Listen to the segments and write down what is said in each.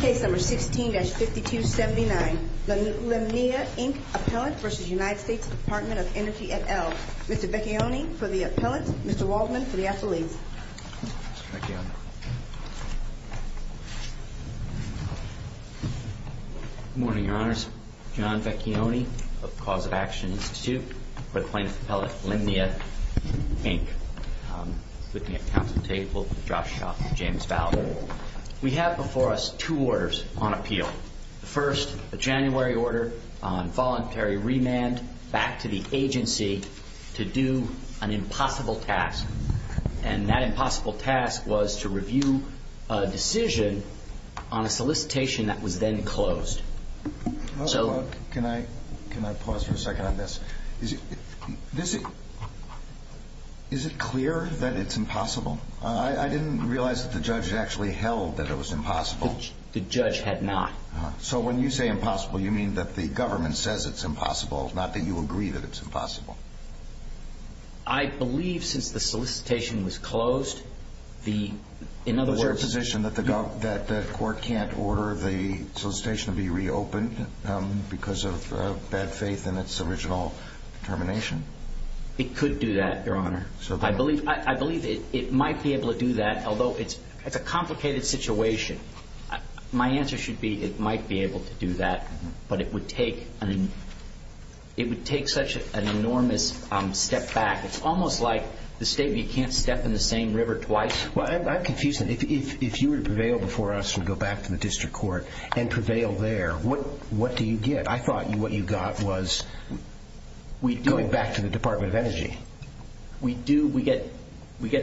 Case No. 16-5279 Linnea, Inc. vs. United States Department of Energy et al. Mr. Vecchione for the appellant, Mr. Waldman for the affiliate. Good morning, Your Honors. John Vecchione of the Cause of Action Institute for the plaintiff's appellate, Linnea, Inc. Looking at counsel's table, Josh Schauff and James Fowler, we have before us two orders on appeal. The first, a January order on voluntary remand back to the agency to do an impossible task. And that impossible task was to review a decision on a solicitation that was then closed. Can I pause for a second on this? Is it clear that it's impossible? I didn't realize that the judge actually held that it was impossible. The judge had not. So when you say impossible, you mean that the government says it's impossible, not that you agree that it's impossible. I believe since the solicitation was closed, the... Was there a position that the court can't order the solicitation to be reopened because of bad faith in its original determination? It could do that, Your Honor. I believe it might be able to do that, although it's a complicated situation. My answer should be it might be able to do that, but it would take such an enormous step back. It's almost like the statement, you can't step in the same river twice. Well, I'm confused. If you were to prevail before us and go back to the district court and prevail there, what do you get? I thought what you got was going back to the Department of Energy. We get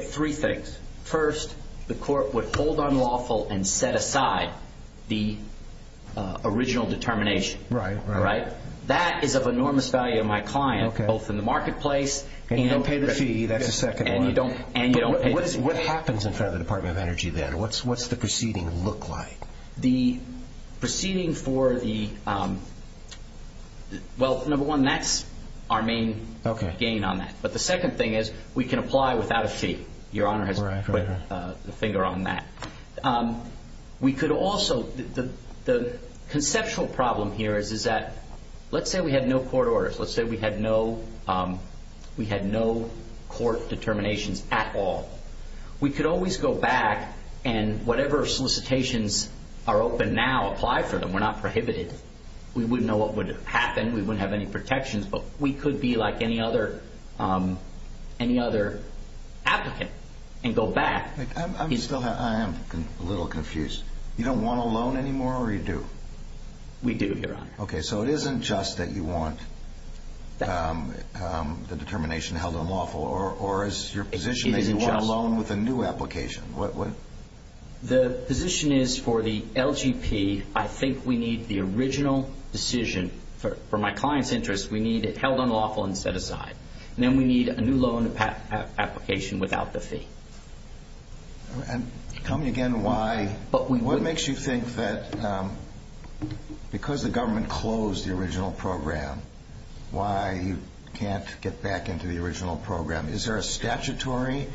three things. First, the court would hold on lawful and set aside the original determination. Right. That is of enormous value to my client, both in the marketplace and... And you don't pay the fee. That's the second one. And you don't pay the fee. What happens in front of the Department of Energy then? What's the proceeding look like? The proceeding for the... Well, number one, that's our main gain on that. But the second thing is we can apply without a fee. Your Honor has put the finger on that. We could also... The conceptual problem here is that let's say we had no court orders. Let's say we had no court determinations at all. We could always go back and whatever solicitations are open now, apply for them. We're not prohibited. We wouldn't know what would happen. We wouldn't have any protections. But we could be like any other applicant and go back. I'm still... I am a little confused. You don't want a loan anymore or you do? We do, Your Honor. Okay. So it isn't just that you want the determination held unlawful or is your position that you want a loan with a new application? The position is for the LGP, I think we need the original decision. For my client's interest, we need it held unlawful and set aside. And then we need a new loan application without the fee. And tell me again why... What makes you think that because the government closed the original program, why you can't get back into the original program? Is there a statutory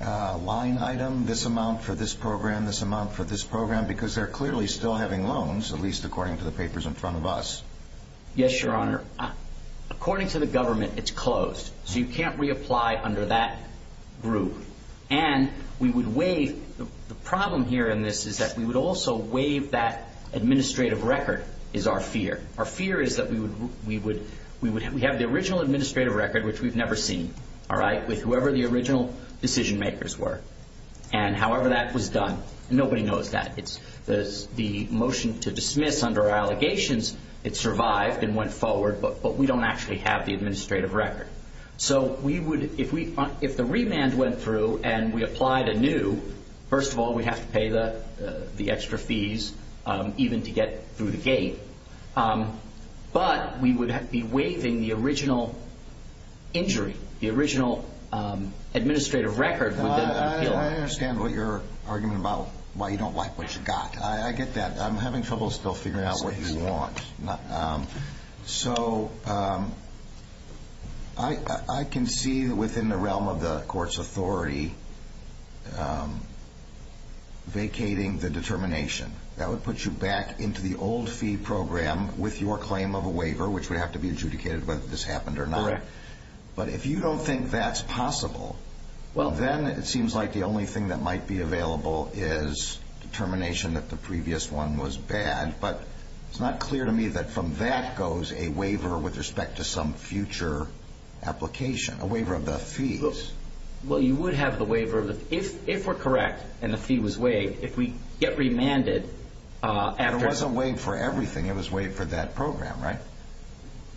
line item, this amount for this program, this amount for this program? Because they're clearly still having loans, at least according to the papers in front of us. Yes, Your Honor. According to the government, it's closed. So you can't reapply under that group. And we would waive... The problem here in this is that we would also waive that administrative record is our fear. Our fear is that we would... We have the original administrative record, which we've never seen, all right, with whoever the original decision makers were. And however that was done, nobody knows that. The motion to dismiss under allegations, it survived and went forward. But we don't actually have the administrative record. So we would... If the remand went through and we applied anew, first of all, we'd have to pay the extra fees, even to get through the gate. But we would have to be waiving the original injury. The original administrative record would then be killed. I understand what your argument about why you don't like what you got. I get that. I'm having trouble still figuring out what you want. So I can see within the realm of the court's authority vacating the determination. That would put you back into the old fee program with your claim of a waiver, which would have to be adjudicated whether this happened or not. Correct. But if you don't think that's possible, then it seems like the only thing that might be available is determination that the previous one was bad. But it's not clear to me that from that goes a waiver with respect to some future application, a waiver of the fees. Well, you would have the waiver. If we're correct and the fee was waived, if we get remanded after... It wasn't waived for everything. It was waived for that program, right?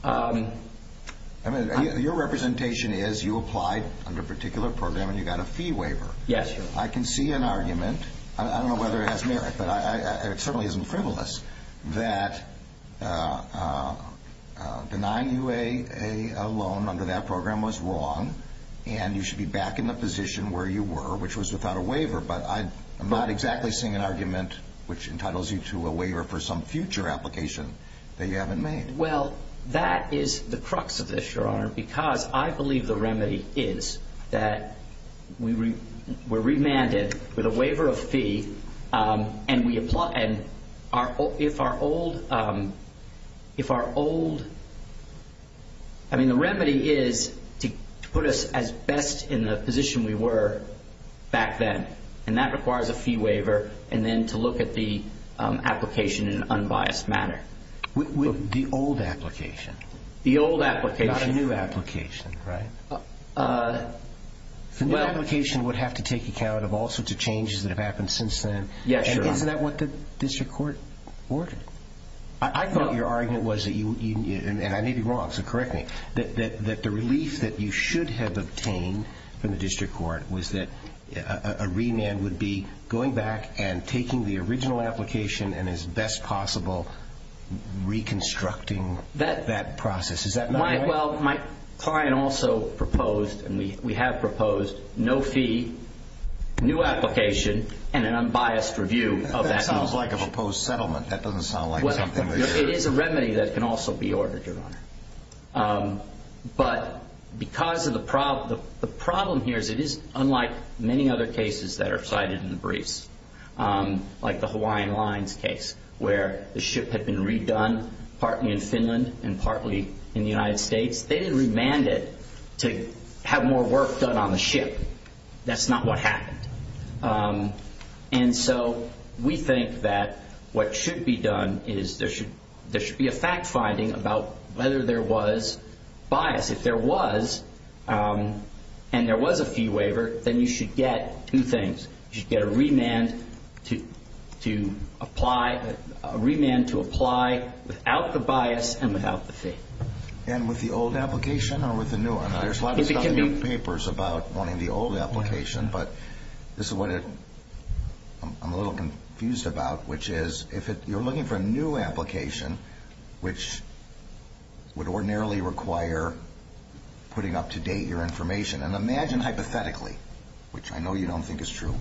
I mean, your representation is you applied under a particular program and you got a fee waiver. Yes. I can see an argument. I don't know whether it has merit, but it certainly isn't frivolous that denying you a loan under that program was wrong and you should be back in the position where you were, which was without a waiver. But I'm not exactly seeing an argument which entitles you to a waiver for some future application that you haven't made. Well, that is the crux of this, Your Honor, because I believe the remedy is that we're remanded with a waiver of fee and if our old... I mean, the remedy is to put us as best in the position we were back then, and that requires a fee waiver and then to look at the application in an unbiased manner. The old application. The old application. Not a new application, right? The new application would have to take account of all sorts of changes that have happened since then. Yes, Your Honor. Isn't that what the district court ordered? I thought your argument was that you... And I may be wrong, so correct me. That the relief that you should have obtained from the district court was that a remand would be going back and taking the original application and, as best possible, reconstructing that process. Is that right? Well, my client also proposed, and we have proposed, no fee, new application, and an unbiased review of that application. That sounds like a proposed settlement. That doesn't sound like something that you're... But because of the problem... The problem here is it is unlike many other cases that are cited in the briefs, like the Hawaiian Lines case where the ship had been redone partly in Finland and partly in the United States. They didn't remand it to have more work done on the ship. That's not what happened. And so we think that what should be done is there should be a fact-finding about whether there was bias. If there was, and there was a fee waiver, then you should get two things. You should get a remand to apply without the bias and without the fee. And with the old application or with the new one? There's lots of papers about wanting the old application, but this is what I'm a little confused about, which is if you're looking for a new application, which would ordinarily require putting up to date your information, and imagine hypothetically, which I know you don't think is true,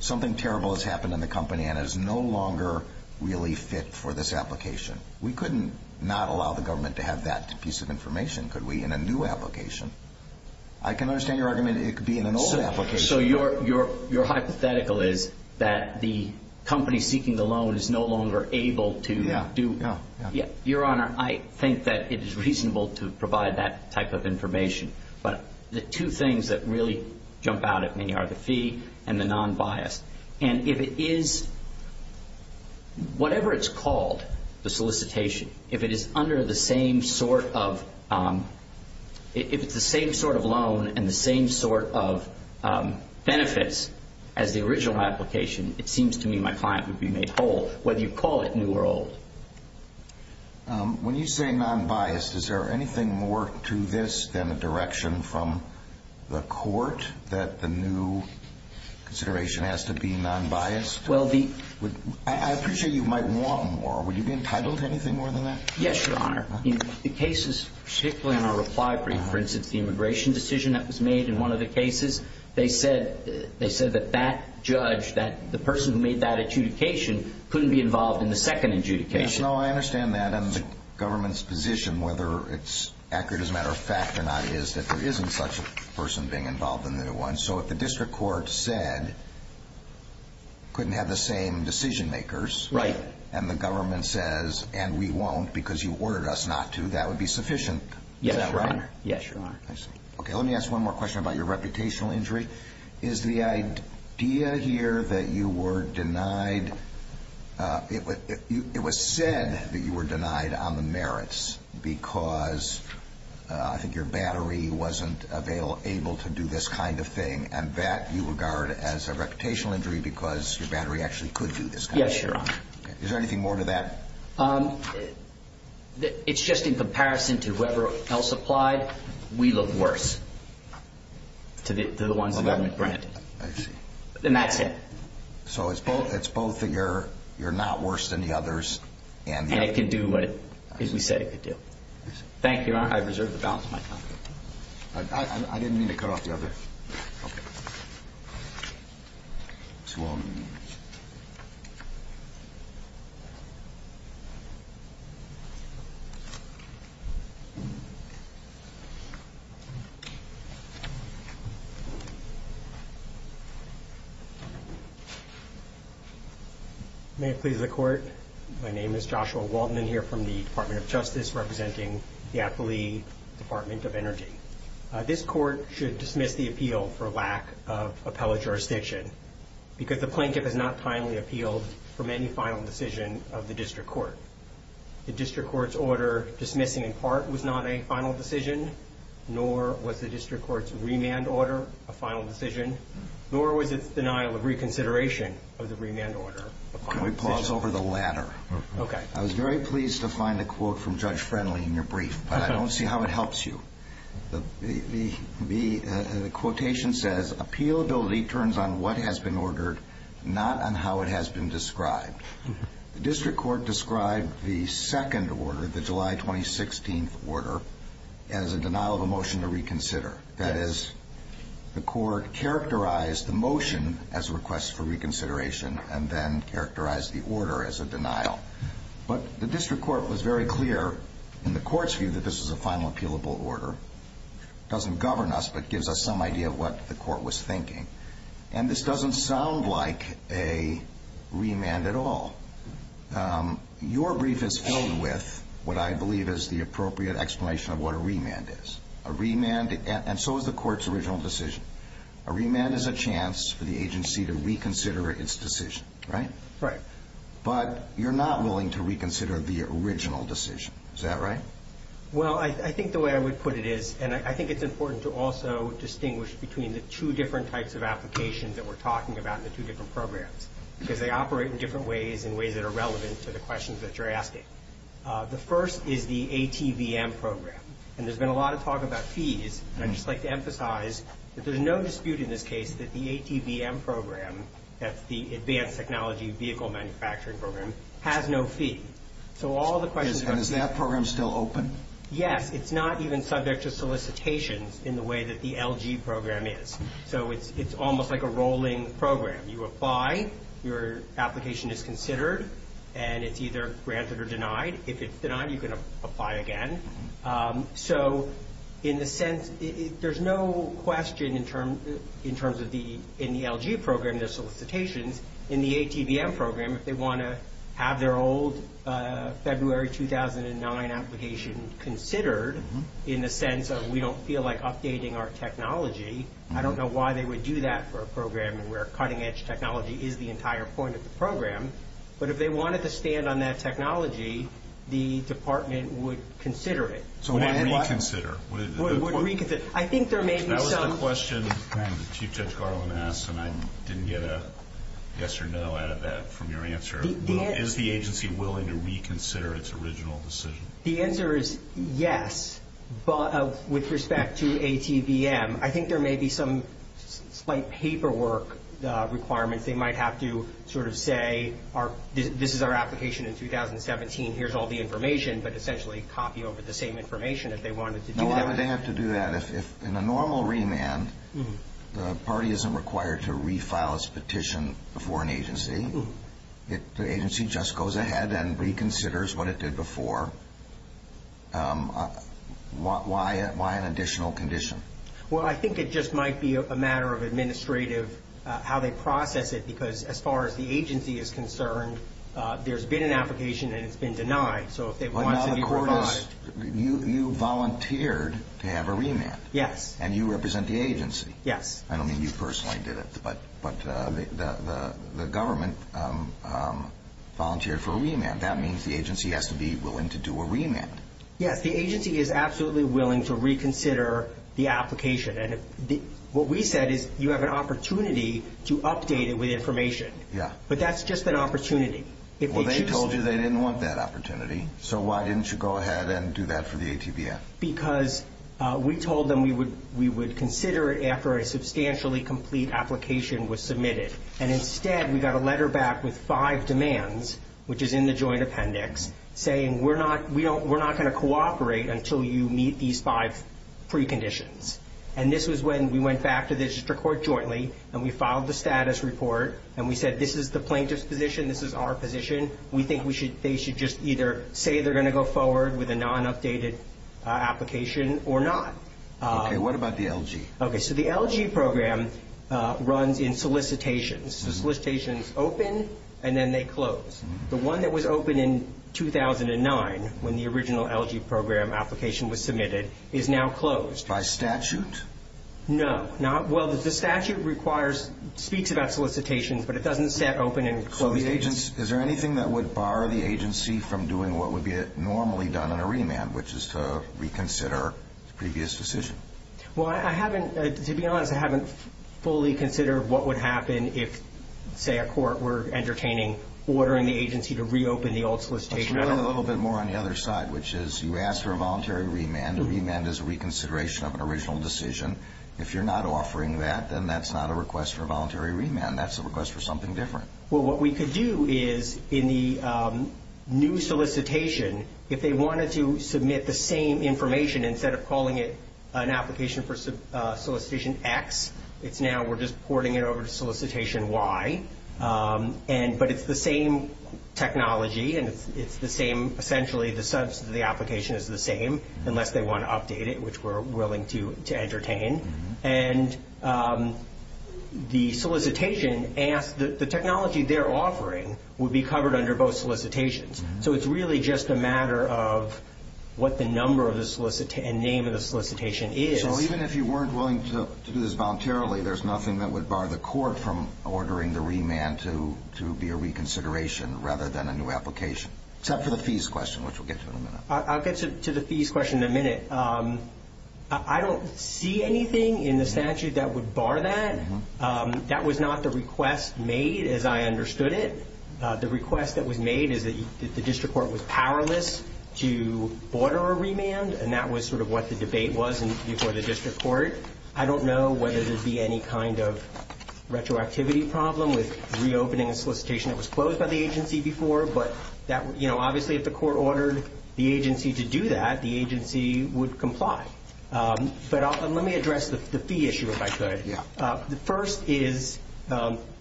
something terrible has happened in the company and it is no longer really fit for this application. We couldn't not allow the government to have that piece of information, could we, in a new application. I can understand your argument it could be in an old application. So your hypothetical is that the company seeking the loan is no longer able to do? Yeah. Your Honor, I think that it is reasonable to provide that type of information, but the two things that really jump out at me are the fee and the non-bias. And if it is whatever it's called, the solicitation, if it is under the same sort of loan and the same sort of benefits as the original application, it seems to me my client would be made whole, whether you call it new or old. When you say non-biased, is there anything more to this than a direction from the court that the new consideration has to be non-biased? I appreciate you might want more. Would you be entitled to anything more than that? Yes, Your Honor. The cases, particularly in our reply brief, for instance, the immigration decision that was made in one of the cases, they said that that judge, the person who made that adjudication, couldn't be involved in the second adjudication. No, I understand that. And the government's position, whether it's accurate as a matter of fact or not, is that there isn't such a person being involved in the new one. So if the district court said, couldn't have the same decision makers, and the government says, and we won't because you ordered us not to, that would be sufficient. Is that right? Yes, Your Honor. I see. Okay, let me ask one more question about your reputational injury. Is the idea here that you were denied, it was said that you were denied on the merits because I think your battery wasn't able to do this kind of thing, and that you regard as a reputational injury because your battery actually could do this kind of thing? Yes, Your Honor. Is there anything more to that? It's just in comparison to whoever else applied, we look worse to the ones the government granted. I see. And that's it. So it's both that you're not worse than the others. And it can do what we said it could do. Thank you, Your Honor. I reserve the balance of my time. I didn't mean to cut off the other. Okay. Mr. Walton. May it please the Court. My name is Joshua Walton. I'm here from the Department of Justice representing the affiliate Department of Energy. This Court should dismiss the appeal for lack of appellate jurisdiction because the plaintiff has not timely appealed from any final decision of the District Court. The District Court's order dismissing in part was not a final decision, nor was the District Court's remand order a final decision, nor was its denial of reconsideration of the remand order a final decision. Can we pause over the latter? Okay. I was very pleased to find a quote from Judge Friendly in your brief, but I don't see how it helps you. The quotation says, Appealability turns on what has been ordered, not on how it has been described. The District Court described the second order, the July 2016 order, as a denial of a motion to reconsider. That is, the Court characterized the motion as a request for reconsideration and then characterized the order as a denial. But the District Court was very clear in the Court's view that this is a final appealable order. It doesn't govern us, but it gives us some idea of what the Court was thinking. And this doesn't sound like a remand at all. Your brief is filled with what I believe is the appropriate explanation of what a remand is. And so is the Court's original decision. A remand is a chance for the agency to reconsider its decision. Right? Right. But you're not willing to reconsider the original decision. Is that right? Well, I think the way I would put it is, and I think it's important to also distinguish between the two different types of applications that we're talking about in the two different programs because they operate in different ways in ways that are relevant to the questions that you're asking. The first is the ATVM program. And there's been a lot of talk about fees, and I'd just like to emphasize that there's no dispute in this case that the ATVM program, that's the Advanced Technology Vehicle Manufacturing program, has no fee. So all the questions... And is that program still open? Yes. It's not even subject to solicitations in the way that the LG program is. So it's almost like a rolling program. You apply, your application is considered, and it's either granted or denied. If it's denied, you can apply again. So in a sense, there's no question in terms of the LG program, their solicitations. In the ATVM program, if they want to have their old February 2009 application considered, in the sense of we don't feel like updating our technology, I don't know why they would do that for a program where cutting-edge technology is the entire point of the program. But if they wanted to stand on that technology, the department would consider it. So would it reconsider? I think there may be some... That was the question that Chief Judge Garland asked, and I didn't get a yes or no out of that from your answer. Is the agency willing to reconsider its original decision? The answer is yes, with respect to ATVM. I think there may be some slight paperwork requirements. They might have to sort of say, this is our application in 2017, here's all the information, but essentially copy over the same information if they wanted to do that. No, I would have to do that. If in a normal remand, the party isn't required to refile its petition before an agency, if the agency just goes ahead and reconsiders what it did before, why an additional condition? Well, I think it just might be a matter of administrative, how they process it, because as far as the agency is concerned, there's been an application and it's been denied. So if they wanted to be provided... You volunteered to have a remand. Yes. And you represent the agency. Yes. I don't mean you personally did it, but the government volunteered for a remand. That means the agency has to be willing to do a remand. Yes, the agency is absolutely willing to reconsider the application. And what we said is you have an opportunity to update it with information. Yeah. But that's just an opportunity. Well, they told you they didn't want that opportunity. So why didn't you go ahead and do that for the ATVF? Because we told them we would consider it after a substantially complete application was submitted. And instead, we got a letter back with five demands, which is in the joint appendix, saying we're not going to cooperate until you meet these five preconditions. And this was when we went back to the district court jointly, and we filed the status report, and we said this is the plaintiff's position, this is our position. We think they should just either say they're going to go forward with a non-updated application or not. Okay. What about the LG? Okay. So the LG program runs in solicitations. So solicitations open and then they close. The one that was open in 2009, when the original LG program application was submitted, is now closed. By statute? No. Well, the statute speaks about solicitations, but it doesn't set open and close the agency. So is there anything that would bar the agency from doing what would be normally done on a remand, which is to reconsider the previous decision? Well, to be honest, I haven't fully considered what would happen if, say, at court we're entertaining ordering the agency to reopen the old solicitation. Let's run it a little bit more on the other side, which is you ask for a voluntary remand. A remand is a reconsideration of an original decision. If you're not offering that, then that's not a request for a voluntary remand. That's a request for something different. Well, what we could do is, in the new solicitation, if they wanted to submit the same information instead of calling it an application for solicitation X, it's now we're just porting it over to solicitation Y, but it's the same technology and it's the same, essentially, the sense that the application is the same, unless they want to update it, which we're willing to entertain. And the solicitation asks that the technology they're offering would be covered under both solicitations. So it's really just a matter of what the number and name of the solicitation is. So even if you weren't willing to do this voluntarily, there's nothing that would bar the court from ordering the remand to be a reconsideration rather than a new application, except for the fees question, which we'll get to in a minute. I'll get to the fees question in a minute. I don't see anything in the statute that would bar that. That was not the request made, as I understood it. The request that was made is that the district court was powerless to order a remand, and that was sort of what the debate was before the district court. I don't know whether there would be any kind of retroactivity problem with reopening a solicitation that was closed by the agency before, but obviously if the court ordered the agency to do that, the agency would comply. But let me address the fee issue, if I could. The first is,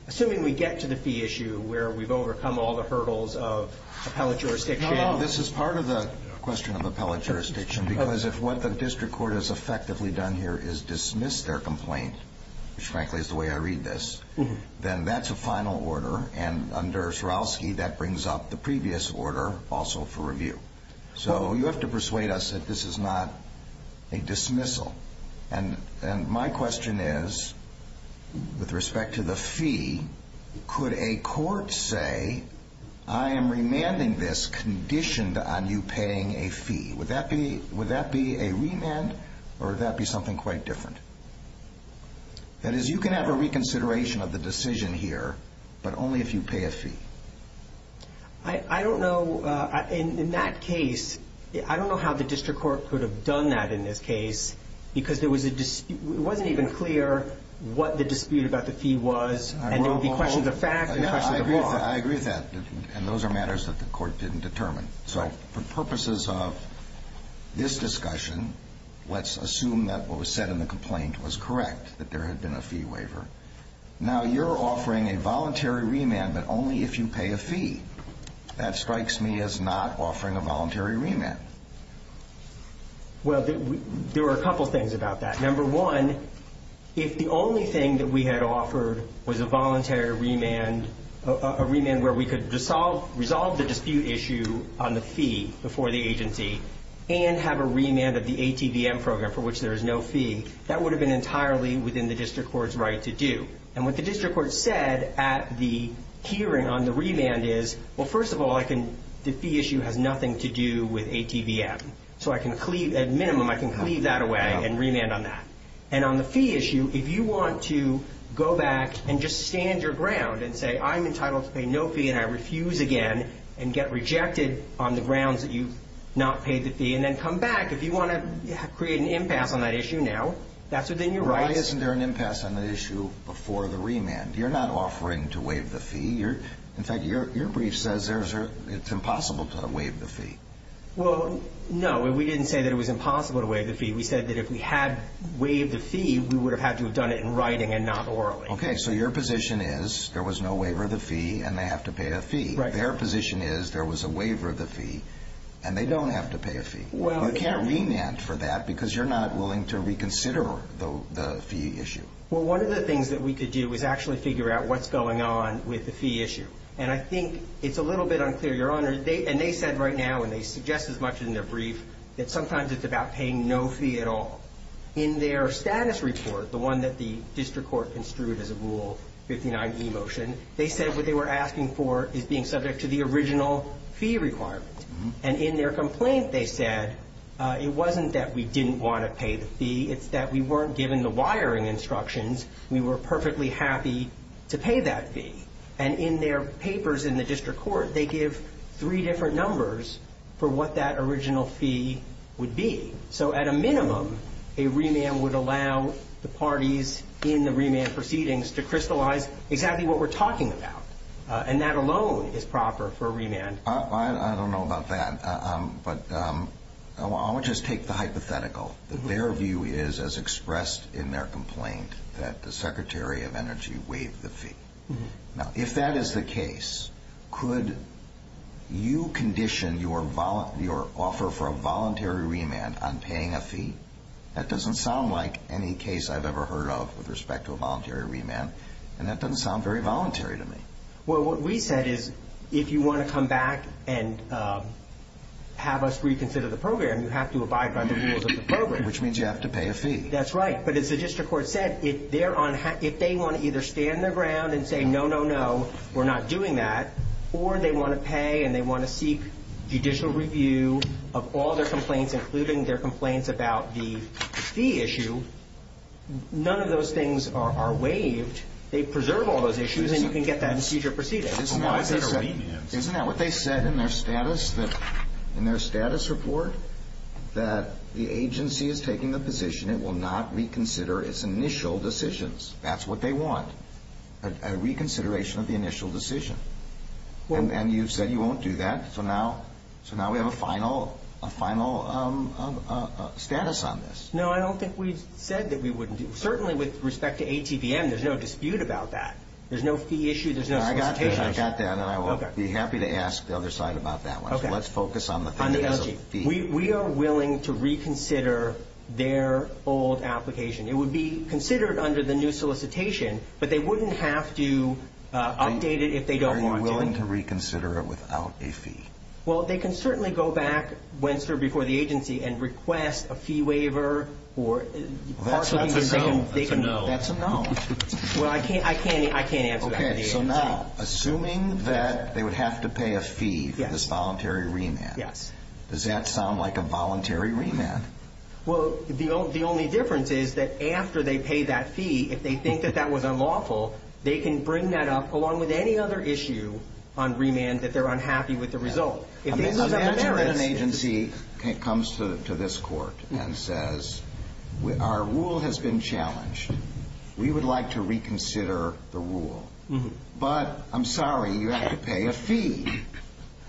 assuming we get to the fee issue where we've overcome all the hurdles of appellate jurisdiction. This is part of the question of appellate jurisdiction, because if what the district court has effectively done here is dismiss their complaint, which frankly is the way I read this, then that's a final order, and under Swarovski that brings up the previous order also for review. So you have to persuade us that this is not a dismissal. And my question is, with respect to the fee, could a court say, I am remanding this conditioned on you paying a fee. Would that be a remand, or would that be something quite different? That is, you can have a reconsideration of the decision here, but only if you pay a fee. I don't know. In that case, I don't know how the district court could have done that in this case, because it wasn't even clear what the dispute about the fee was, and there would be questions of fact and questions of law. I agree with that, and those are matters that the court didn't determine. So for purposes of this discussion, let's assume that what was said in the complaint was correct, that there had been a fee waiver. Now, you're offering a voluntary remand, but only if you pay a fee. That strikes me as not offering a voluntary remand. Well, there are a couple things about that. Number one, if the only thing that we had offered was a voluntary remand, a remand where we could resolve the dispute issue on the fee before the agency and have a remand of the ATVM program for which there is no fee, that would have been entirely within the district court's right to do. And what the district court said at the hearing on the remand is, well, first of all, the fee issue has nothing to do with ATVM. So at minimum, I can cleave that away and remand on that. And on the fee issue, if you want to go back and just stand your ground and say, I'm entitled to pay no fee and I refuse again, if you want to create an impasse on that issue now, that's within your rights. Why isn't there an impasse on the issue before the remand? You're not offering to waive the fee. In fact, your brief says it's impossible to waive the fee. Well, no, we didn't say that it was impossible to waive the fee. We said that if we had waived the fee, we would have had to have done it in writing and not orally. Okay, so your position is there was no waiver of the fee and they have to pay a fee. Their position is there was a waiver of the fee and they don't have to pay a fee. You can't remand for that because you're not willing to reconsider the fee issue. Well, one of the things that we could do is actually figure out what's going on with the fee issue. And I think it's a little bit unclear, Your Honor. And they said right now, and they suggest as much in their brief, that sometimes it's about paying no fee at all. In their status report, the one that the district court construed as a Rule 59e motion, they said what they were asking for is being subject to the original fee requirement. And in their complaint they said it wasn't that we didn't want to pay the fee. It's that we weren't given the wiring instructions. We were perfectly happy to pay that fee. And in their papers in the district court, they give three different numbers for what that original fee would be. So at a minimum, a remand would allow the parties in the remand proceedings to crystallize exactly what we're talking about. And that alone is proper for a remand. I don't know about that. But I would just take the hypothetical. Their view is, as expressed in their complaint, that the Secretary of Energy waived the fee. Now, if that is the case, could you condition your offer for a voluntary remand on paying a fee? That doesn't sound like any case I've ever heard of with respect to a voluntary remand. And that doesn't sound very voluntary to me. Well, what we said is if you want to come back and have us reconsider the program, you have to abide by the rules of the program. Which means you have to pay a fee. That's right. But as the district court said, if they want to either stand their ground and say, no, no, no, we're not doing that, or they want to pay and they want to seek judicial review of all their complaints, including their complaints about the fee issue, none of those things are waived. They preserve all those issues and you can get that procedure proceeded. Isn't that what they said in their status report? That the agency is taking the position it will not reconsider its initial decisions. That's what they want, a reconsideration of the initial decision. And you've said you won't do that. So now we have a final status on this. No, I don't think we said that we wouldn't do it. Certainly with respect to ATVM, there's no dispute about that. There's no fee issue, there's no solicitation issue. I got that and I will be happy to ask the other side about that one. So let's focus on the fee. We are willing to reconsider their old application. It would be considered under the new solicitation, but they wouldn't have to update it if they don't want to. So they're willing to reconsider it without a fee. Well, they can certainly go back once before the agency and request a fee waiver. That's a no. That's a no. Well, I can't answer that. Okay, so now, assuming that they would have to pay a fee for this voluntary remand, does that sound like a voluntary remand? Well, the only difference is that after they pay that fee, if they think that that was unlawful, they can bring that up along with any other issue on remand that they're unhappy with the result. Imagine if an agency comes to this court and says, our rule has been challenged. We would like to reconsider the rule. But I'm sorry, you have to pay a fee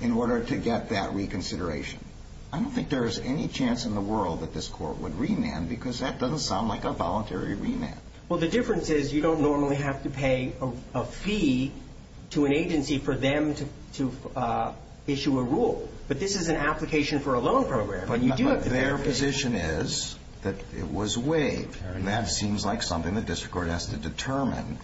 in order to get that reconsideration. I don't think there's any chance in the world that this court would remand because that doesn't sound like a voluntary remand. Well, the difference is you don't normally have to pay a fee to an agency for them to issue a rule. But this is an application for a loan program. But their position is that it was waived, and that seems like something the district court has to determine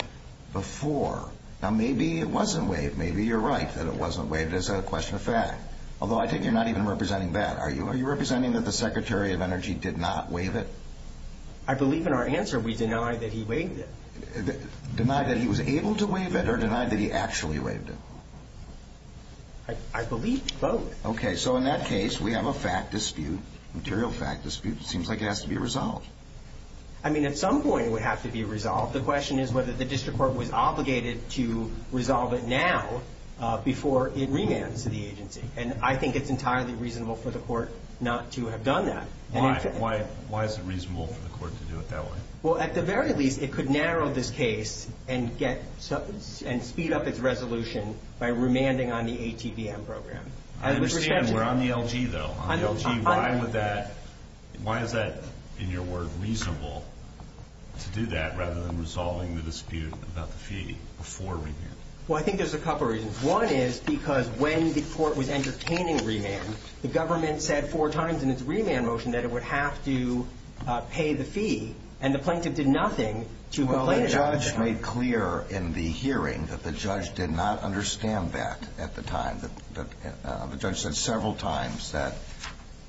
before. Now, maybe it wasn't waived. Maybe you're right that it wasn't waived as a question of fact, although I take it you're not even representing that, are you? Are you representing that the Secretary of Energy did not waive it? I believe in our answer we deny that he waived it. Deny that he was able to waive it or deny that he actually waived it? I believe both. Okay, so in that case, we have a fact dispute, material fact dispute. It seems like it has to be resolved. I mean, at some point it would have to be resolved. The question is whether the district court was obligated to resolve it now before it remands to the agency. And I think it's entirely reasonable for the court not to have done that. Why is it reasonable for the court to do it that way? Well, at the very least, it could narrow this case and speed up its resolution by remanding on the ATVM program. I understand. We're on the LG, though. On the LG, why is that, in your word, reasonable to do that rather than resolving the dispute about the fee before remand? Well, I think there's a couple reasons. One is because when the court was entertaining remand, the government said four times in its remand motion that it would have to pay the fee, and the plaintiff did nothing to complain about that. Well, the judge made clear in the hearing that the judge did not understand that at the time. The judge said several times that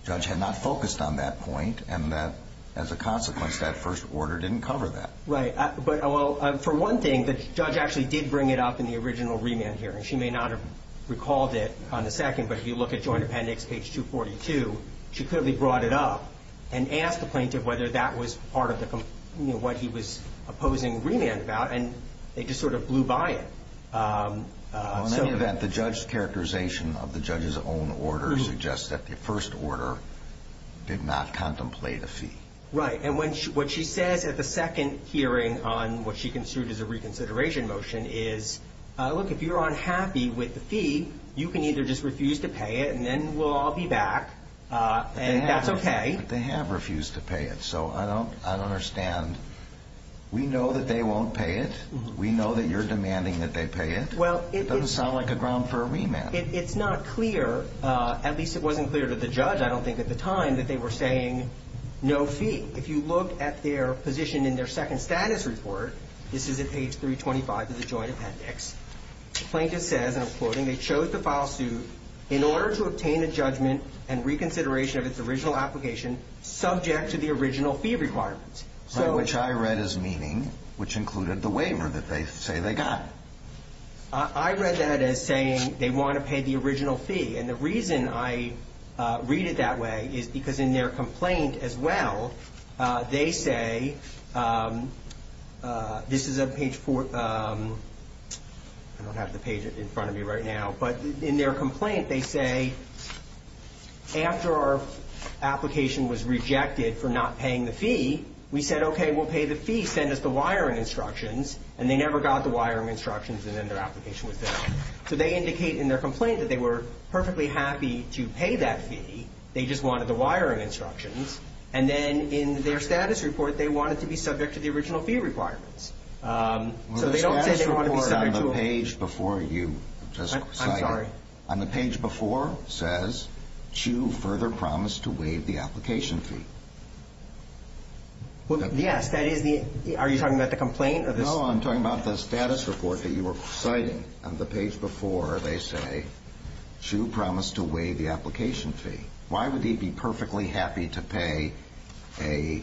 the judge had not focused on that point and that, as a consequence, that first order didn't cover that. Right. Well, for one thing, the judge actually did bring it up in the original remand hearing. She may not have recalled it on the second, but if you look at Joint Appendix page 242, she clearly brought it up and asked the plaintiff whether that was part of what he was opposing remand about, and they just sort of blew by it. Well, in any event, the judge's characterization of the judge's own order suggests that the first order did not contemplate a fee. Right. And what she says at the second hearing on what she considered as a reconsideration motion is, look, if you're unhappy with the fee, you can either just refuse to pay it and then we'll all be back, and that's okay. But they have refused to pay it, so I don't understand. We know that they won't pay it. We know that you're demanding that they pay it. It doesn't sound like a ground for a remand. It's not clear, at least it wasn't clear to the judge, I don't think, at the time, that they were saying no fee. If you look at their position in their second status report, this is at page 325 of the joint appendix, the plaintiff says, and I'm quoting, they chose to file suit in order to obtain a judgment and reconsideration of its original application subject to the original fee requirements. Which I read as meaning, which included the waiver that they say they got. I read that as saying they want to pay the original fee, and the reason I read it that way is because in their complaint as well, they say, this is at page 4, I don't have the page in front of me right now, but in their complaint they say, after our application was rejected for not paying the fee, we said, okay, we'll pay the fee, send us the wiring instructions, and they never got the wiring instructions, and then their application was filled. So they indicate in their complaint that they were perfectly happy to pay that fee, they just wanted the wiring instructions. And then in their status report, they wanted to be subject to the original fee requirements. So they don't say they want to be subject to a The status report on the page before you just cited, I'm sorry. On the page before says, Chu further promised to waive the application fee. Yes, that is the, are you talking about the complaint? No, I'm talking about the status report that you were citing. On the page before they say, Chu promised to waive the application fee. Why would he be perfectly happy to pay a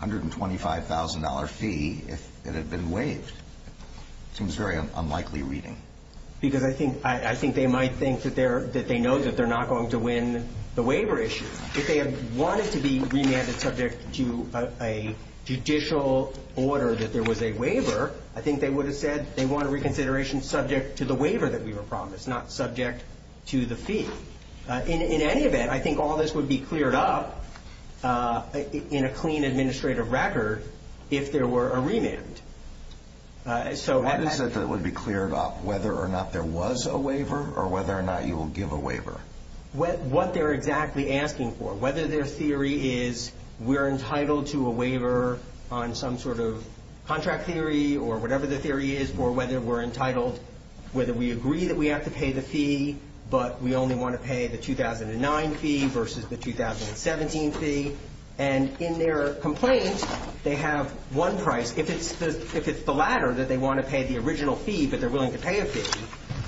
$125,000 fee if it had been waived? It seems very unlikely reading. Because I think they might think that they know that they're not going to win the waiver issue. If they had wanted to be remanded subject to a judicial order that there was a waiver, I think they would have said they want a reconsideration subject to the waiver that we were promised, not subject to the fee. In any event, I think all this would be cleared up in a clean administrative record if there were a remand. I just said that it would be cleared up whether or not there was a waiver or whether or not you will give a waiver. What they're exactly asking for, whether their theory is we're entitled to a waiver on some sort of contract theory or whatever the theory is, or whether we're entitled, whether we agree that we have to pay the fee, but we only want to pay the 2009 fee versus the 2017 fee. And in their complaint, they have one price. If it's the latter, that they want to pay the original fee, but they're willing to pay a fee.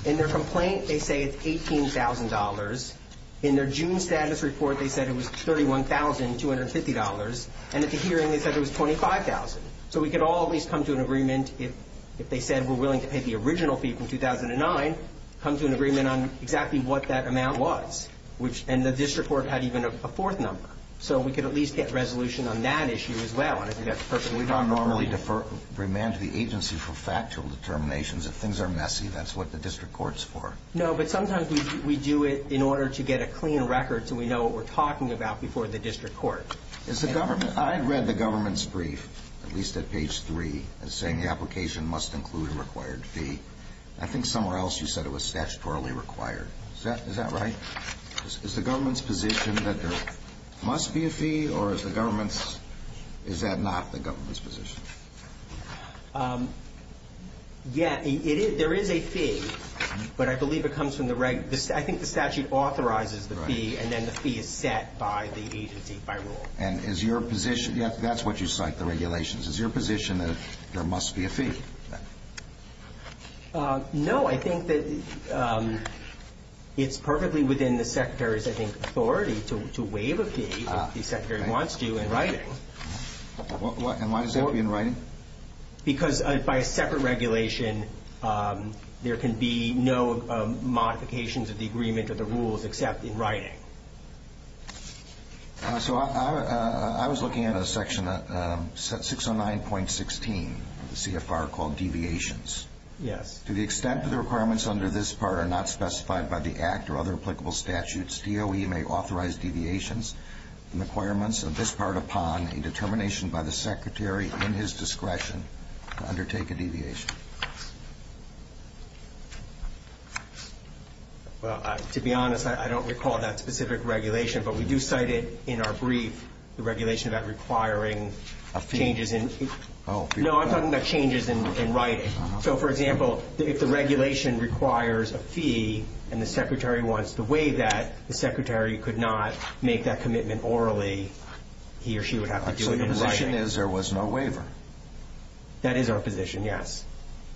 In their complaint, they say it's $18,000. In their June status report, they said it was $31,250. And at the hearing, they said it was $25,000. So we could all at least come to an agreement if they said we're willing to pay the original fee from 2009, come to an agreement on exactly what that amount was. And the district court had even a fourth number. So we could at least get resolution on that issue as well. We don't normally remand the agency for factual determinations. If things are messy, that's what the district court's for. No, but sometimes we do it in order to get a clean record so we know what we're talking about before the district court. I read the government's brief, at least at page 3, saying the application must include a required fee. I think somewhere else you said it was statutorily required. Is that right? Is the government's position that there must be a fee, or is the government's – is that not the government's position? Yeah, it is. There is a fee, but I believe it comes from the – I think the statute authorizes the fee, and then the fee is set by the agency by rule. And is your position – that's what you cite, the regulations. Is your position that there must be a fee? No, I think that it's perfectly within the Secretary's, I think, authority to waive a fee if the Secretary wants to in writing. And why does that have to be in writing? Because by a separate regulation, there can be no modifications of the agreement or the rules except in writing. So I was looking at a section, set 609.16 of the CFR called deviations. Yes. To the extent that the requirements under this part are not specified by the Act or other applicable statutes, DOE may authorize deviations from the requirements of this part upon a determination by the Secretary in his discretion to undertake a deviation. Well, to be honest, I don't recall that specific regulation. But we do cite it in our brief, the regulation about requiring changes in – A fee? No, I'm talking about changes in writing. So, for example, if the regulation requires a fee and the Secretary wants to waive that, the Secretary could not make that commitment orally. He or she would have to do it in writing. So your position is there was no waiver? That is our position, yes.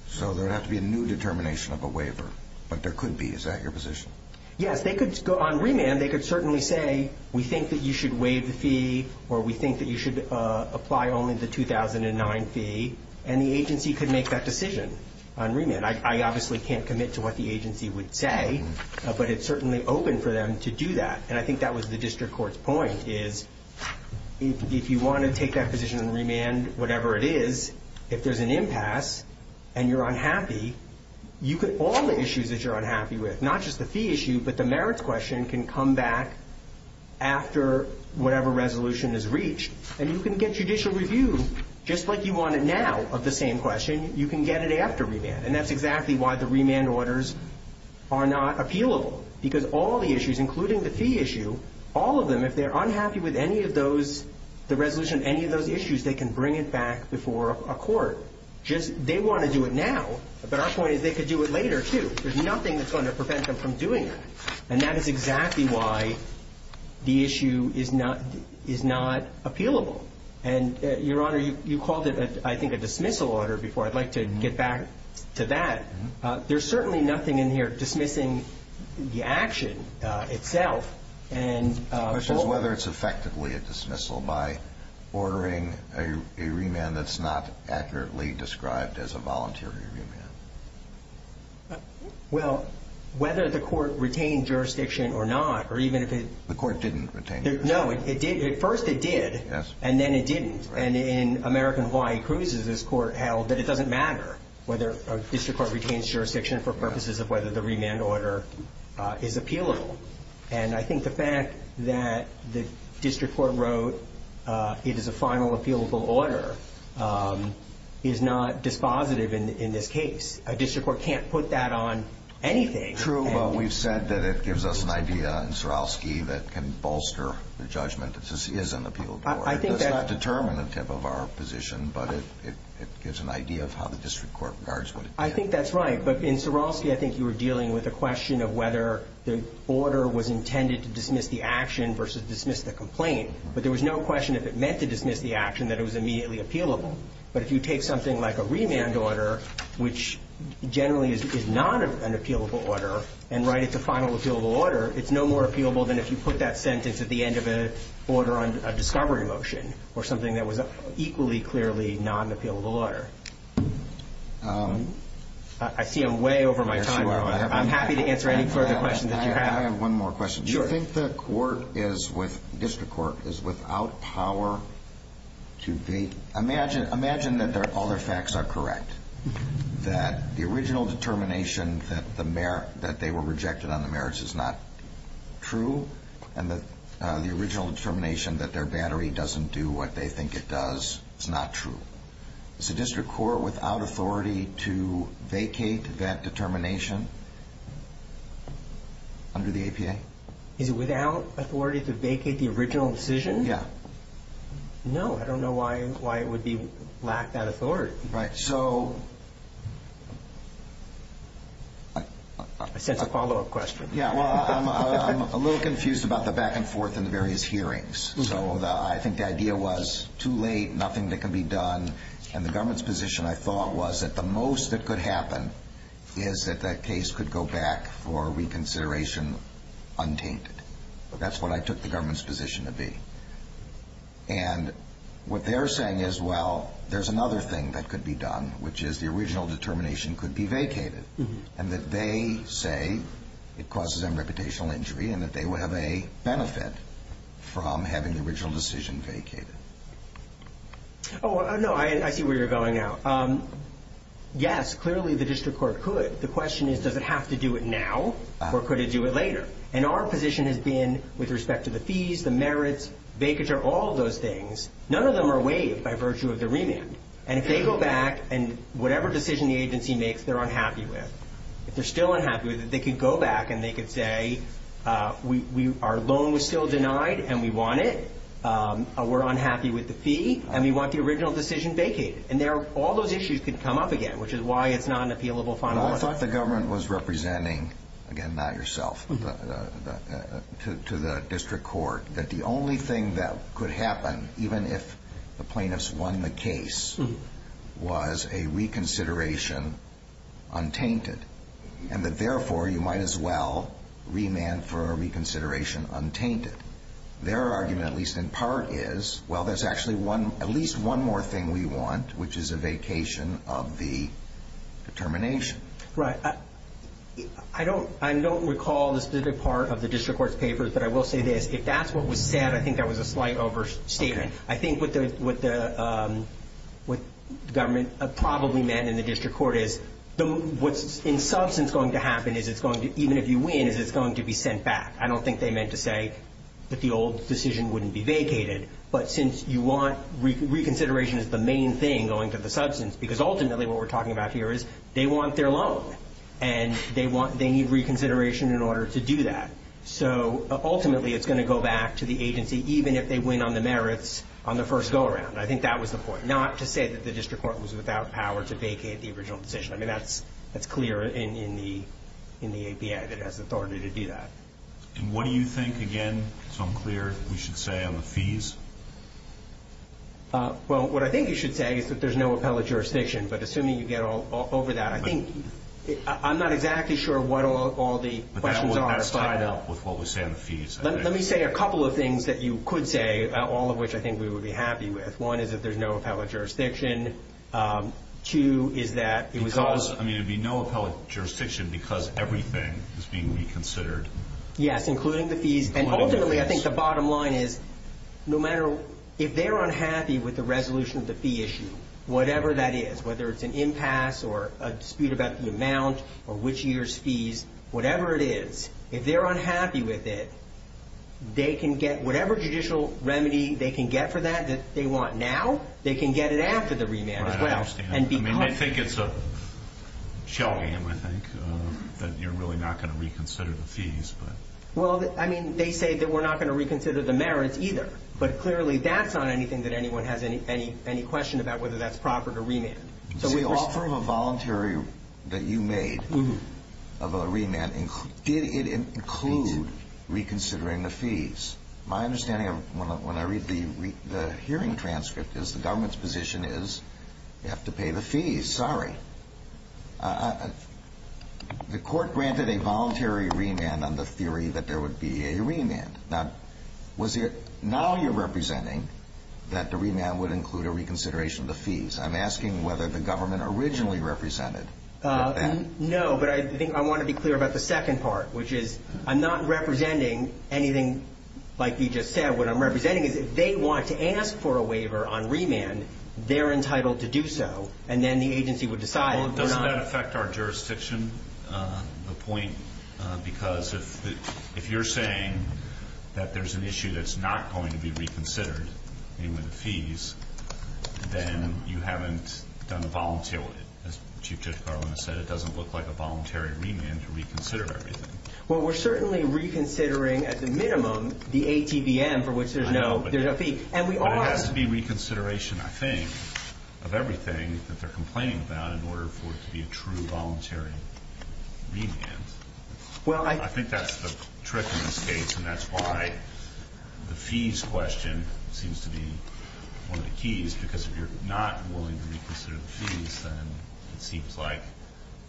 So there would have to be a new determination of a waiver. But there could be. Is that your position? Yes. On remand, they could certainly say, we think that you should waive the fee, or we think that you should apply only the 2009 fee. And the agency could make that decision on remand. I obviously can't commit to what the agency would say, but it's certainly open for them to do that. And I think that was the district court's point, is if you want to take that position on remand, whatever it is, if there's an impasse and you're unhappy, all the issues that you're unhappy with, not just the fee issue, but the merits question, can come back after whatever resolution is reached. And you can get judicial review, just like you want it now, of the same question. You can get it after remand. And that's exactly why the remand orders are not appealable, because all the issues, including the fee issue, all of them, if they're unhappy with any of those, the resolution of any of those issues, they can bring it back before a court. They want to do it now, but our point is they could do it later, too. There's nothing that's going to prevent them from doing it. And that is exactly why the issue is not appealable. And, Your Honor, you called it, I think, a dismissal order before. I'd like to get back to that. There's certainly nothing in here dismissing the action itself. The question is whether it's effectively a dismissal by ordering a remand that's not accurately described as a voluntary remand. Well, whether the court retained jurisdiction or not, or even if it didn't. The court didn't retain jurisdiction. No, it did. At first it did, and then it didn't. And in American Hawaii Cruises, this court held that it doesn't matter whether a district court retains jurisdiction for purposes of whether the remand order is appealable. And I think the fact that the district court wrote it is a final appealable order is not dispositive in this case. A district court can't put that on anything. True, but we've said that it gives us an idea in Surowski that can bolster the judgment that this is an appealable order. It does not determine the tip of our position, but it gives an idea of how the district court regards what it did. I think that's right, but in Surowski I think you were dealing with a question of whether the order was intended to dismiss the action versus dismiss the complaint. But there was no question if it meant to dismiss the action that it was immediately appealable. But if you take something like a remand order, which generally is not an appealable order, and write it to final appealable order, it's no more appealable than if you put that sentence at the end of an order on a discovery motion or something that was equally clearly not an appealable order. I see I'm way over my time. I'm happy to answer any further questions that you have. I have one more question. Sure. Do you think the district court is without power to be? Imagine that all their facts are correct, that the original determination that they were rejected on the merits is not true, and that the original determination that their battery doesn't do what they think it does is not true. Is the district court without authority to vacate that determination under the APA? Is it without authority to vacate the original decision? Yeah. No. I don't know why it would lack that authority. Right. So. I sense a follow-up question. Yeah. Well, I'm a little confused about the back and forth in the various hearings. So I think the idea was too late, nothing that can be done, and the government's position, I thought, was that the most that could happen is that that case could go back for reconsideration untainted. That's what I took the government's position to be. And what they're saying is, well, there's another thing that could be done, which is the original determination could be vacated, and that they say it causes them reputational injury, and that they would have a benefit from having the original decision vacated. Oh, no. I see where you're going now. Yes, clearly the district court could. The question is, does it have to do it now, or could it do it later? And our position has been, with respect to the fees, the merits, vacature, all those things, none of them are waived by virtue of the remand. And if they go back, and whatever decision the agency makes, they're unhappy with, if they're still unhappy with it, they could go back, and they could say, our loan was still denied, and we want it. We're unhappy with the fee, and we want the original decision vacated. And all those issues could come up again, which is why it's not an appealable final. I thought the government was representing, again, not yourself, to the district court, that the only thing that could happen, even if the plaintiffs won the argument, at least in part, is, well, there's actually at least one more thing we want, which is a vacation of the determination. Right. I don't recall the specific part of the district court's papers, but I will say this. If that's what was said, I think that was a slight overstatement. Okay. If you have a vacation of the determination, you have a vacation of the determination. What, in substance, is going to happen is it's going to, even if you win, is it's going to be sent back. I don't think they meant to say that the old decision wouldn't be vacated. But since you want, reconsideration is the main thing going to the substance, because ultimately what we're talking about here is they want their loan, and they need reconsideration in order to do that. So ultimately, it's going to go back to the agency, even if they win on the merits on the first go-around. I think that was the point. Not to say that the district court was without power to vacate the original decision. I mean, that's clear in the APA, that it has authority to do that. And what do you think, again, so I'm clear, we should say on the fees? Well, what I think you should say is that there's no appellate jurisdiction. But assuming you get over that, I'm not exactly sure what all the questions are. But that's tied up with what we say on the fees. Let me say a couple of things that you could say, all of which I think we would be happy with. One is that there's no appellate jurisdiction. Two is that it was all. I mean, there'd be no appellate jurisdiction because everything is being reconsidered. Yes, including the fees. And ultimately, I think the bottom line is no matter if they're unhappy with the resolution of the fee issue, whatever that is, whether it's an impasse or a dispute about the amount or which year's fees, whatever it is, if they're unhappy with it, they can get whatever judicial remedy they can get for that that they want now. They can get it after the remand as well. I understand. I mean, I think it's a show game, I think, that you're really not going to reconsider the fees. Well, I mean, they say that we're not going to reconsider the merits either. But clearly, that's not anything that anyone has any question about whether that's proper to remand. So we offer a voluntary that you made of a remand. Did it include reconsidering the fees? My understanding of when I read the hearing transcript is the government's position is you have to pay the fees. Sorry. The court granted a voluntary remand on the theory that there would be a remand. Now, was it now you're representing that the remand would include a reconsideration of the fees? I'm asking whether the government originally represented that. No, but I think I want to be clear about the second part, which is I'm not representing anything like you just said. What I'm representing is if they want to ask for a waiver on remand, they're entitled to do so. And then the agency would decide. Doesn't that affect our jurisdiction? The point, because if you're saying that there's an issue that's not going to be reconsidered in the fees, then you haven't done a voluntary. As Chief Judge Garland has said, it doesn't look like a voluntary remand to reconsider everything. Well, we're certainly reconsidering, at the minimum, the ATVM, for which there's no fee. But it has to be reconsideration, I think, of everything that they're complaining about in order for it to be a true voluntary remand. I think that's the trick in this case, and that's why the fees question seems to be one of the keys, because if you're not willing to reconsider the fees, then it seems like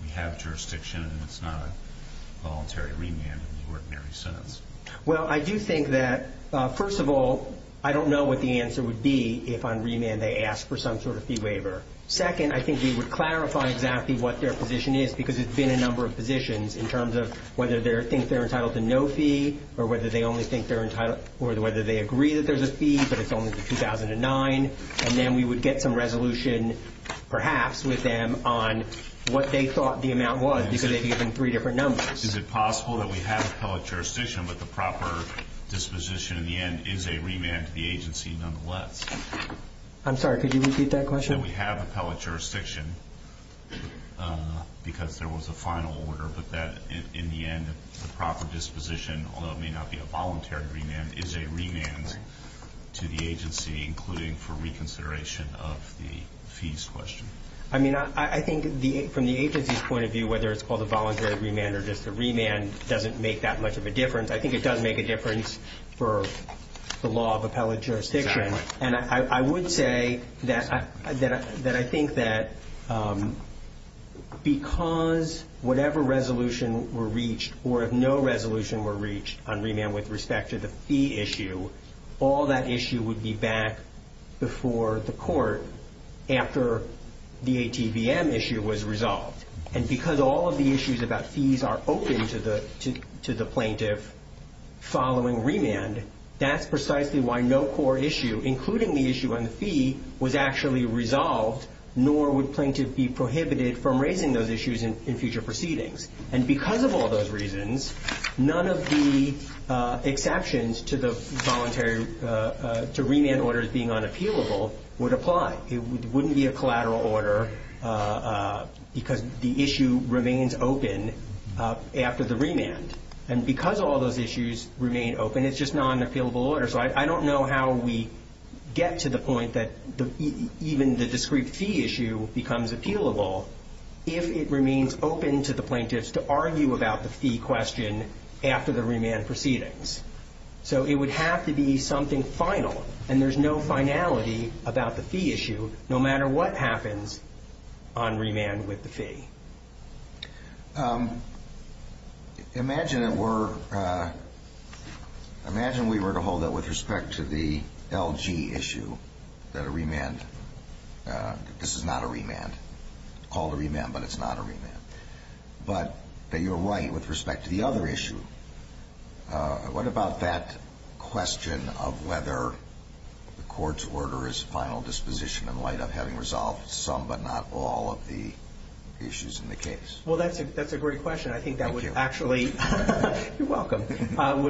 we have jurisdiction and it's not a voluntary remand in the ordinary sense. Well, I do think that, first of all, I don't know what the answer would be if on remand they ask for some sort of fee waiver. Second, I think we would clarify exactly what their position is, because it's been a number of positions in terms of whether they think they're entitled to no fee or whether they agree that there's a fee, but it's only for 2009. And then we would get some resolution, perhaps, with them on what they thought the amount was, because they've given three different numbers. Is it possible that we have appellate jurisdiction, but the proper disposition in the end is a remand to the agency nonetheless? I'm sorry, could you repeat that question? That we have appellate jurisdiction, because there was a final order, but that in the end, the proper disposition, although it may not be a voluntary remand, is a remand to the agency, including for reconsideration of the fees question. I mean, I think from the agency's point of view, whether it's called a voluntary remand or just a remand, doesn't make that much of a difference. I think it does make a difference for the law of appellate jurisdiction. Exactly. And I would say that I think that because whatever resolution were reached or if no resolution were reached on remand with respect to the fee issue, all that issue would be back before the court after the ATVM issue was resolved. And because all of the issues about fees are open to the plaintiff following remand, that's precisely why no core issue, including the issue on the fee, was actually resolved, nor would plaintiff be prohibited from raising those issues in future proceedings. And because of all those reasons, none of the exceptions to the voluntary to remand orders being unappealable would apply. It wouldn't be a collateral order because the issue remains open after the remand. And because all those issues remain open, it's just not an appealable order. So I don't know how we get to the point that even the discrete fee issue becomes appealable if it remains open to the plaintiffs to argue about the fee question after the remand proceedings. So it would have to be something final, and there's no finality about the fee issue, no matter what happens on remand with the fee. Imagine we were to hold that with respect to the LG issue, that a remand, this is not a remand, called a remand but it's not a remand, but that you're right with respect to the other issue. What about that question of whether the court's order is final disposition in light of having resolved some but not all of the issues in the case? Well, that's a great question. I think that would actually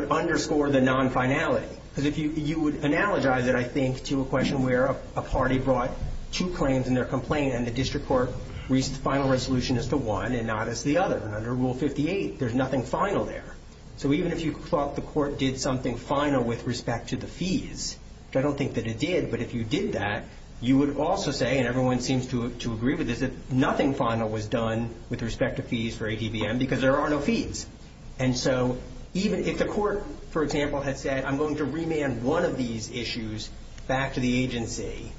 underscore the non-finality. Because you would analogize it, I think, to a question where a party brought two claims in their complaint and the district court reached the final resolution as to one and not as to the other. And under Rule 58, there's nothing final there. So even if you thought the court did something final with respect to the fees, which I don't think that it did, but if you did that, you would also say, and everyone seems to agree with this, that nothing final was done with respect to fees for ATVM because there are no fees. And so if the court, for example, had said, I'm going to remand one of these issues back to the agency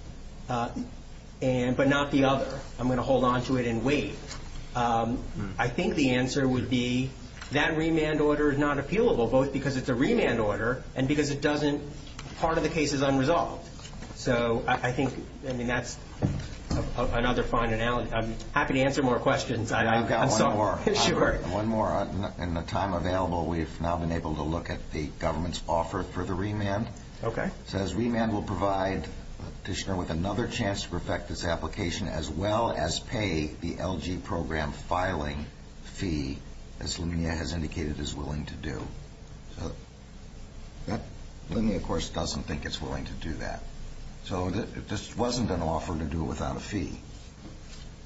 but not the other, I'm going to hold on to it and wait, I think the answer would be that remand order is not appealable, both because it's a remand order and because part of the case is unresolved. So I think that's another fine analogy. I'm happy to answer more questions. I've got one more. In the time available, we've now been able to look at the government's offer for the remand. Okay. It says remand will provide the petitioner with another chance to perfect this application as well as pay the LG program filing fee, as Linnea has indicated is willing to do. Linnea, of course, doesn't think it's willing to do that. So this wasn't an offer to do it without a fee.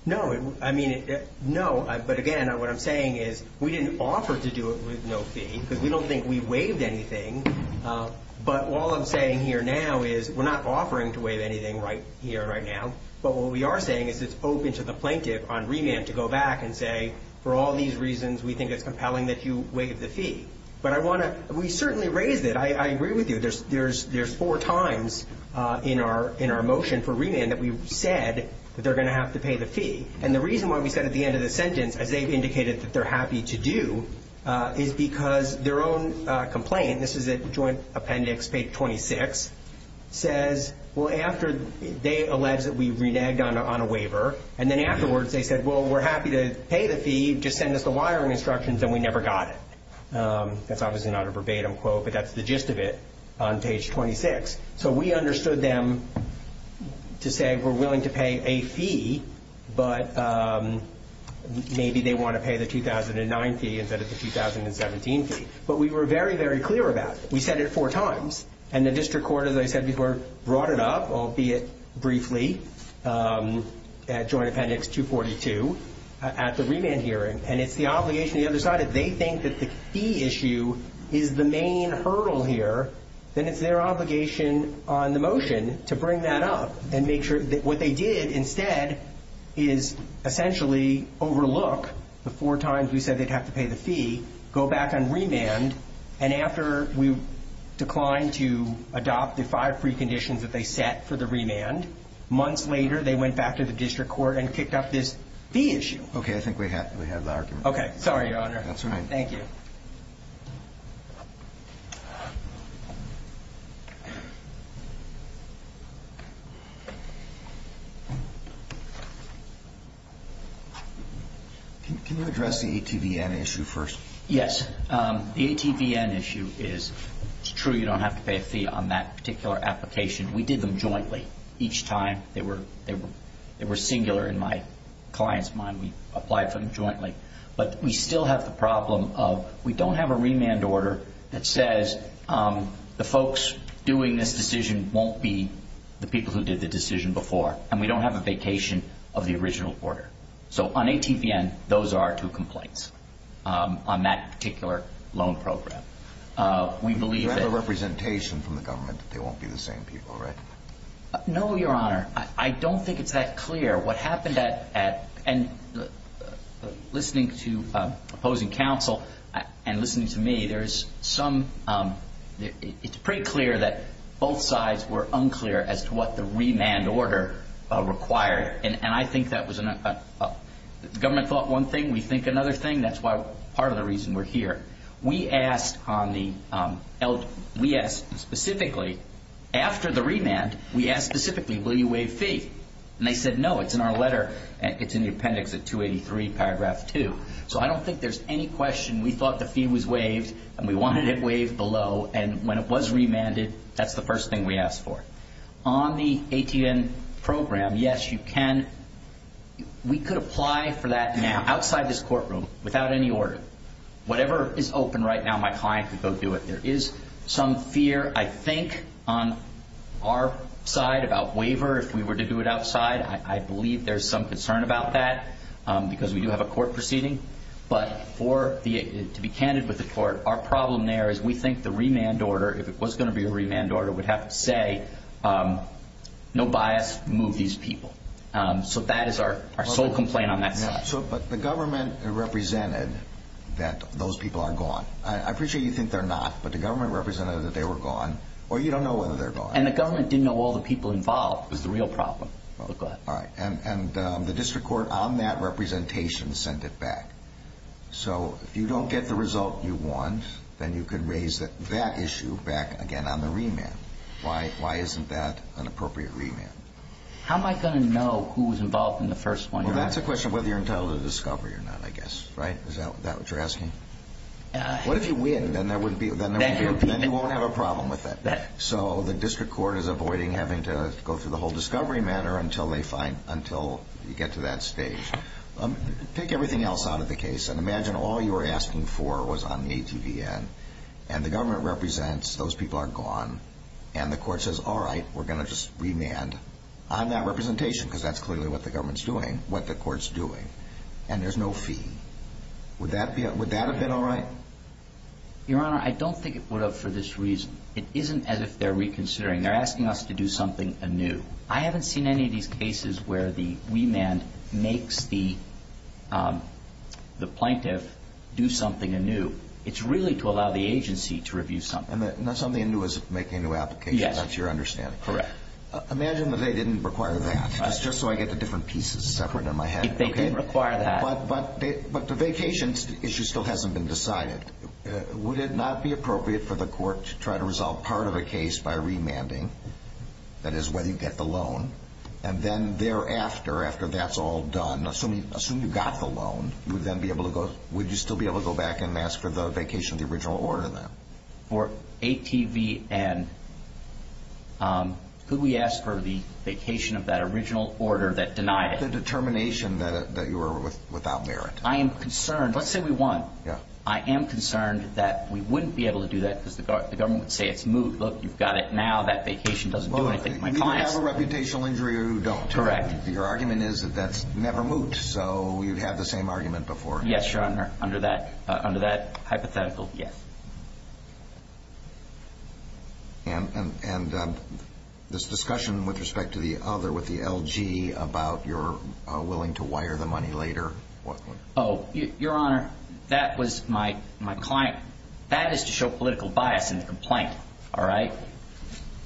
No, I mean, no. But, again, what I'm saying is we didn't offer to do it with no fee because we don't think we waived anything, but all I'm saying here now is we're not offering to waive anything here right now, but what we are saying is it's open to the plaintiff on remand to go back and say, for all these reasons, we think it's compelling that you waive the fee. But we certainly raised it. I agree with you. There's four times in our motion for remand that we've said that they're going to have to pay the fee. And the reason why we said at the end of the sentence, as they've indicated that they're happy to do, is because their own complaint, this is a joint appendix, page 26, says, well, after they allege that we've reneged on a waiver, and then afterwards they said, well, we're happy to pay the fee, just send us the wiring instructions, and we never got it. That's obviously not a verbatim quote, but that's the gist of it on page 26. So we understood them to say we're willing to pay a fee, but maybe they want to pay the 2009 fee instead of the 2017 fee. But we were very, very clear about it. We said it four times. And the district court, as I said before, brought it up, albeit briefly, at joint appendix 242 at the remand hearing. And it's the obligation of the other side. If they think that the fee issue is the main hurdle here, then it's their obligation on the motion to bring that up and make sure that what they did instead is essentially overlook the four times we said they'd have to pay the fee, go back on remand, and after we declined to adopt the five preconditions that they set for the remand, months later they went back to the district court and picked up this fee issue. Okay. I think we have the argument. Okay. Sorry, Your Honor. That's all right. Thank you. Can you address the ATVN issue first? Yes. The ATVN issue is it's true you don't have to pay a fee on that particular application. We did them jointly each time. They were singular in my client's mind. We applied for them jointly. But we still have the problem of we don't have a remand order that says the folks doing this decision won't be the people who did the decision before. And we don't have a vacation of the original order. So on ATVN, those are our two complaints on that particular loan program. Do you have a representation from the government that they won't be the same people, right? No, Your Honor. I don't think it's that clear. What happened at listening to opposing counsel and listening to me, it's pretty clear that both sides were unclear as to what the remand order required. And I think the government thought one thing. We think another thing. That's part of the reason we're here. We asked specifically after the remand, we asked specifically, will you waive fee? And they said no. It's in our letter. It's in the appendix at 283, paragraph 2. So I don't think there's any question. We thought the fee was waived, and we wanted it waived below. And when it was remanded, that's the first thing we asked for. On the ATVN program, yes, you can. We could apply for that outside this courtroom without any order. Whatever is open right now, my client could go do it. There is some fear, I think, on our side about waiver if we were to do it outside. I believe there's some concern about that because we do have a court proceeding. But to be candid with the court, our problem there is we think the remand order, if it was going to be a remand order, would have it say, no bias, move these people. So that is our sole complaint on that side. But the government represented that those people are gone. I appreciate you think they're not, but the government represented that they were gone. Or you don't know whether they're gone. And the government didn't know all the people involved was the real problem. And the district court on that representation sent it back. So if you don't get the result you want, then you can raise that issue back again on the remand. Why isn't that an appropriate remand? How am I going to know who was involved in the first one? Well, that's a question of whether you're entitled to discovery or not, I guess. Is that what you're asking? What if you win? Then you won't have a problem with it. So the district court is avoiding having to go through the whole discovery matter until you get to that stage. Take everything else out of the case and imagine all you were asking for was on the ATVN. And the government represents those people are gone. And the court says, all right, we're going to just remand on that representation because that's clearly what the government's doing, what the court's doing. And there's no fee. Would that have been all right? Your Honor, I don't think it would have for this reason. It isn't as if they're reconsidering. They're asking us to do something anew. I haven't seen any of these cases where the remand makes the plaintiff do something anew. It's really to allow the agency to review something. Not something anew as making a new application. Yes. That's your understanding. Correct. Imagine that they didn't require that. Just so I get the different pieces separate in my head. They didn't require that. But the vacation issue still hasn't been decided. Would it not be appropriate for the court to try to resolve part of the case by remanding? That is, when you get the loan. And then thereafter, after that's all done, assume you got the loan, would you still be able to go back and ask for the vacation of the original order then? For ATVN, could we ask for the vacation of that original order that denied it? The determination that you were without merit. I am concerned. Let's say we won. Yeah. I am concerned that we wouldn't be able to do that because the government would say it's moot. Look, you've got it now. That vacation doesn't do anything. You either have a reputational injury or you don't. Correct. Your argument is that that's never moot, so you've had the same argument before. Yes, Your Honor, under that hypothetical. Yes. And this discussion with respect to the other, with the LG, about your willing to wire the money later. Oh, Your Honor, that was my client. That is to show political bias in the complaint, all right,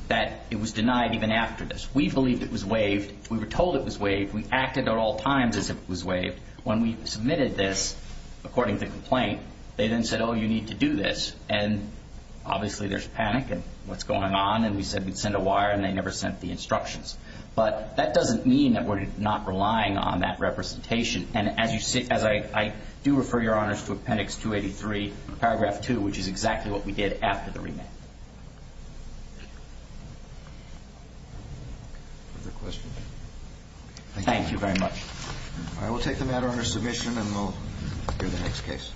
that it was denied even after this. We believed it was waived. We were told it was waived. We acted at all times as if it was waived. When we submitted this, according to the complaint, they then said, oh, you need to do this. And obviously there's panic in what's going on, and we said we'd send a wire, and they never sent the instructions. But that doesn't mean that we're not relying on that representation. And as you see, as I do refer Your Honors to Appendix 283, Paragraph 2, which is exactly what we did after the remand. Further questions? Thank you very much. All right, we'll take the matter under submission, and we'll hear the next case.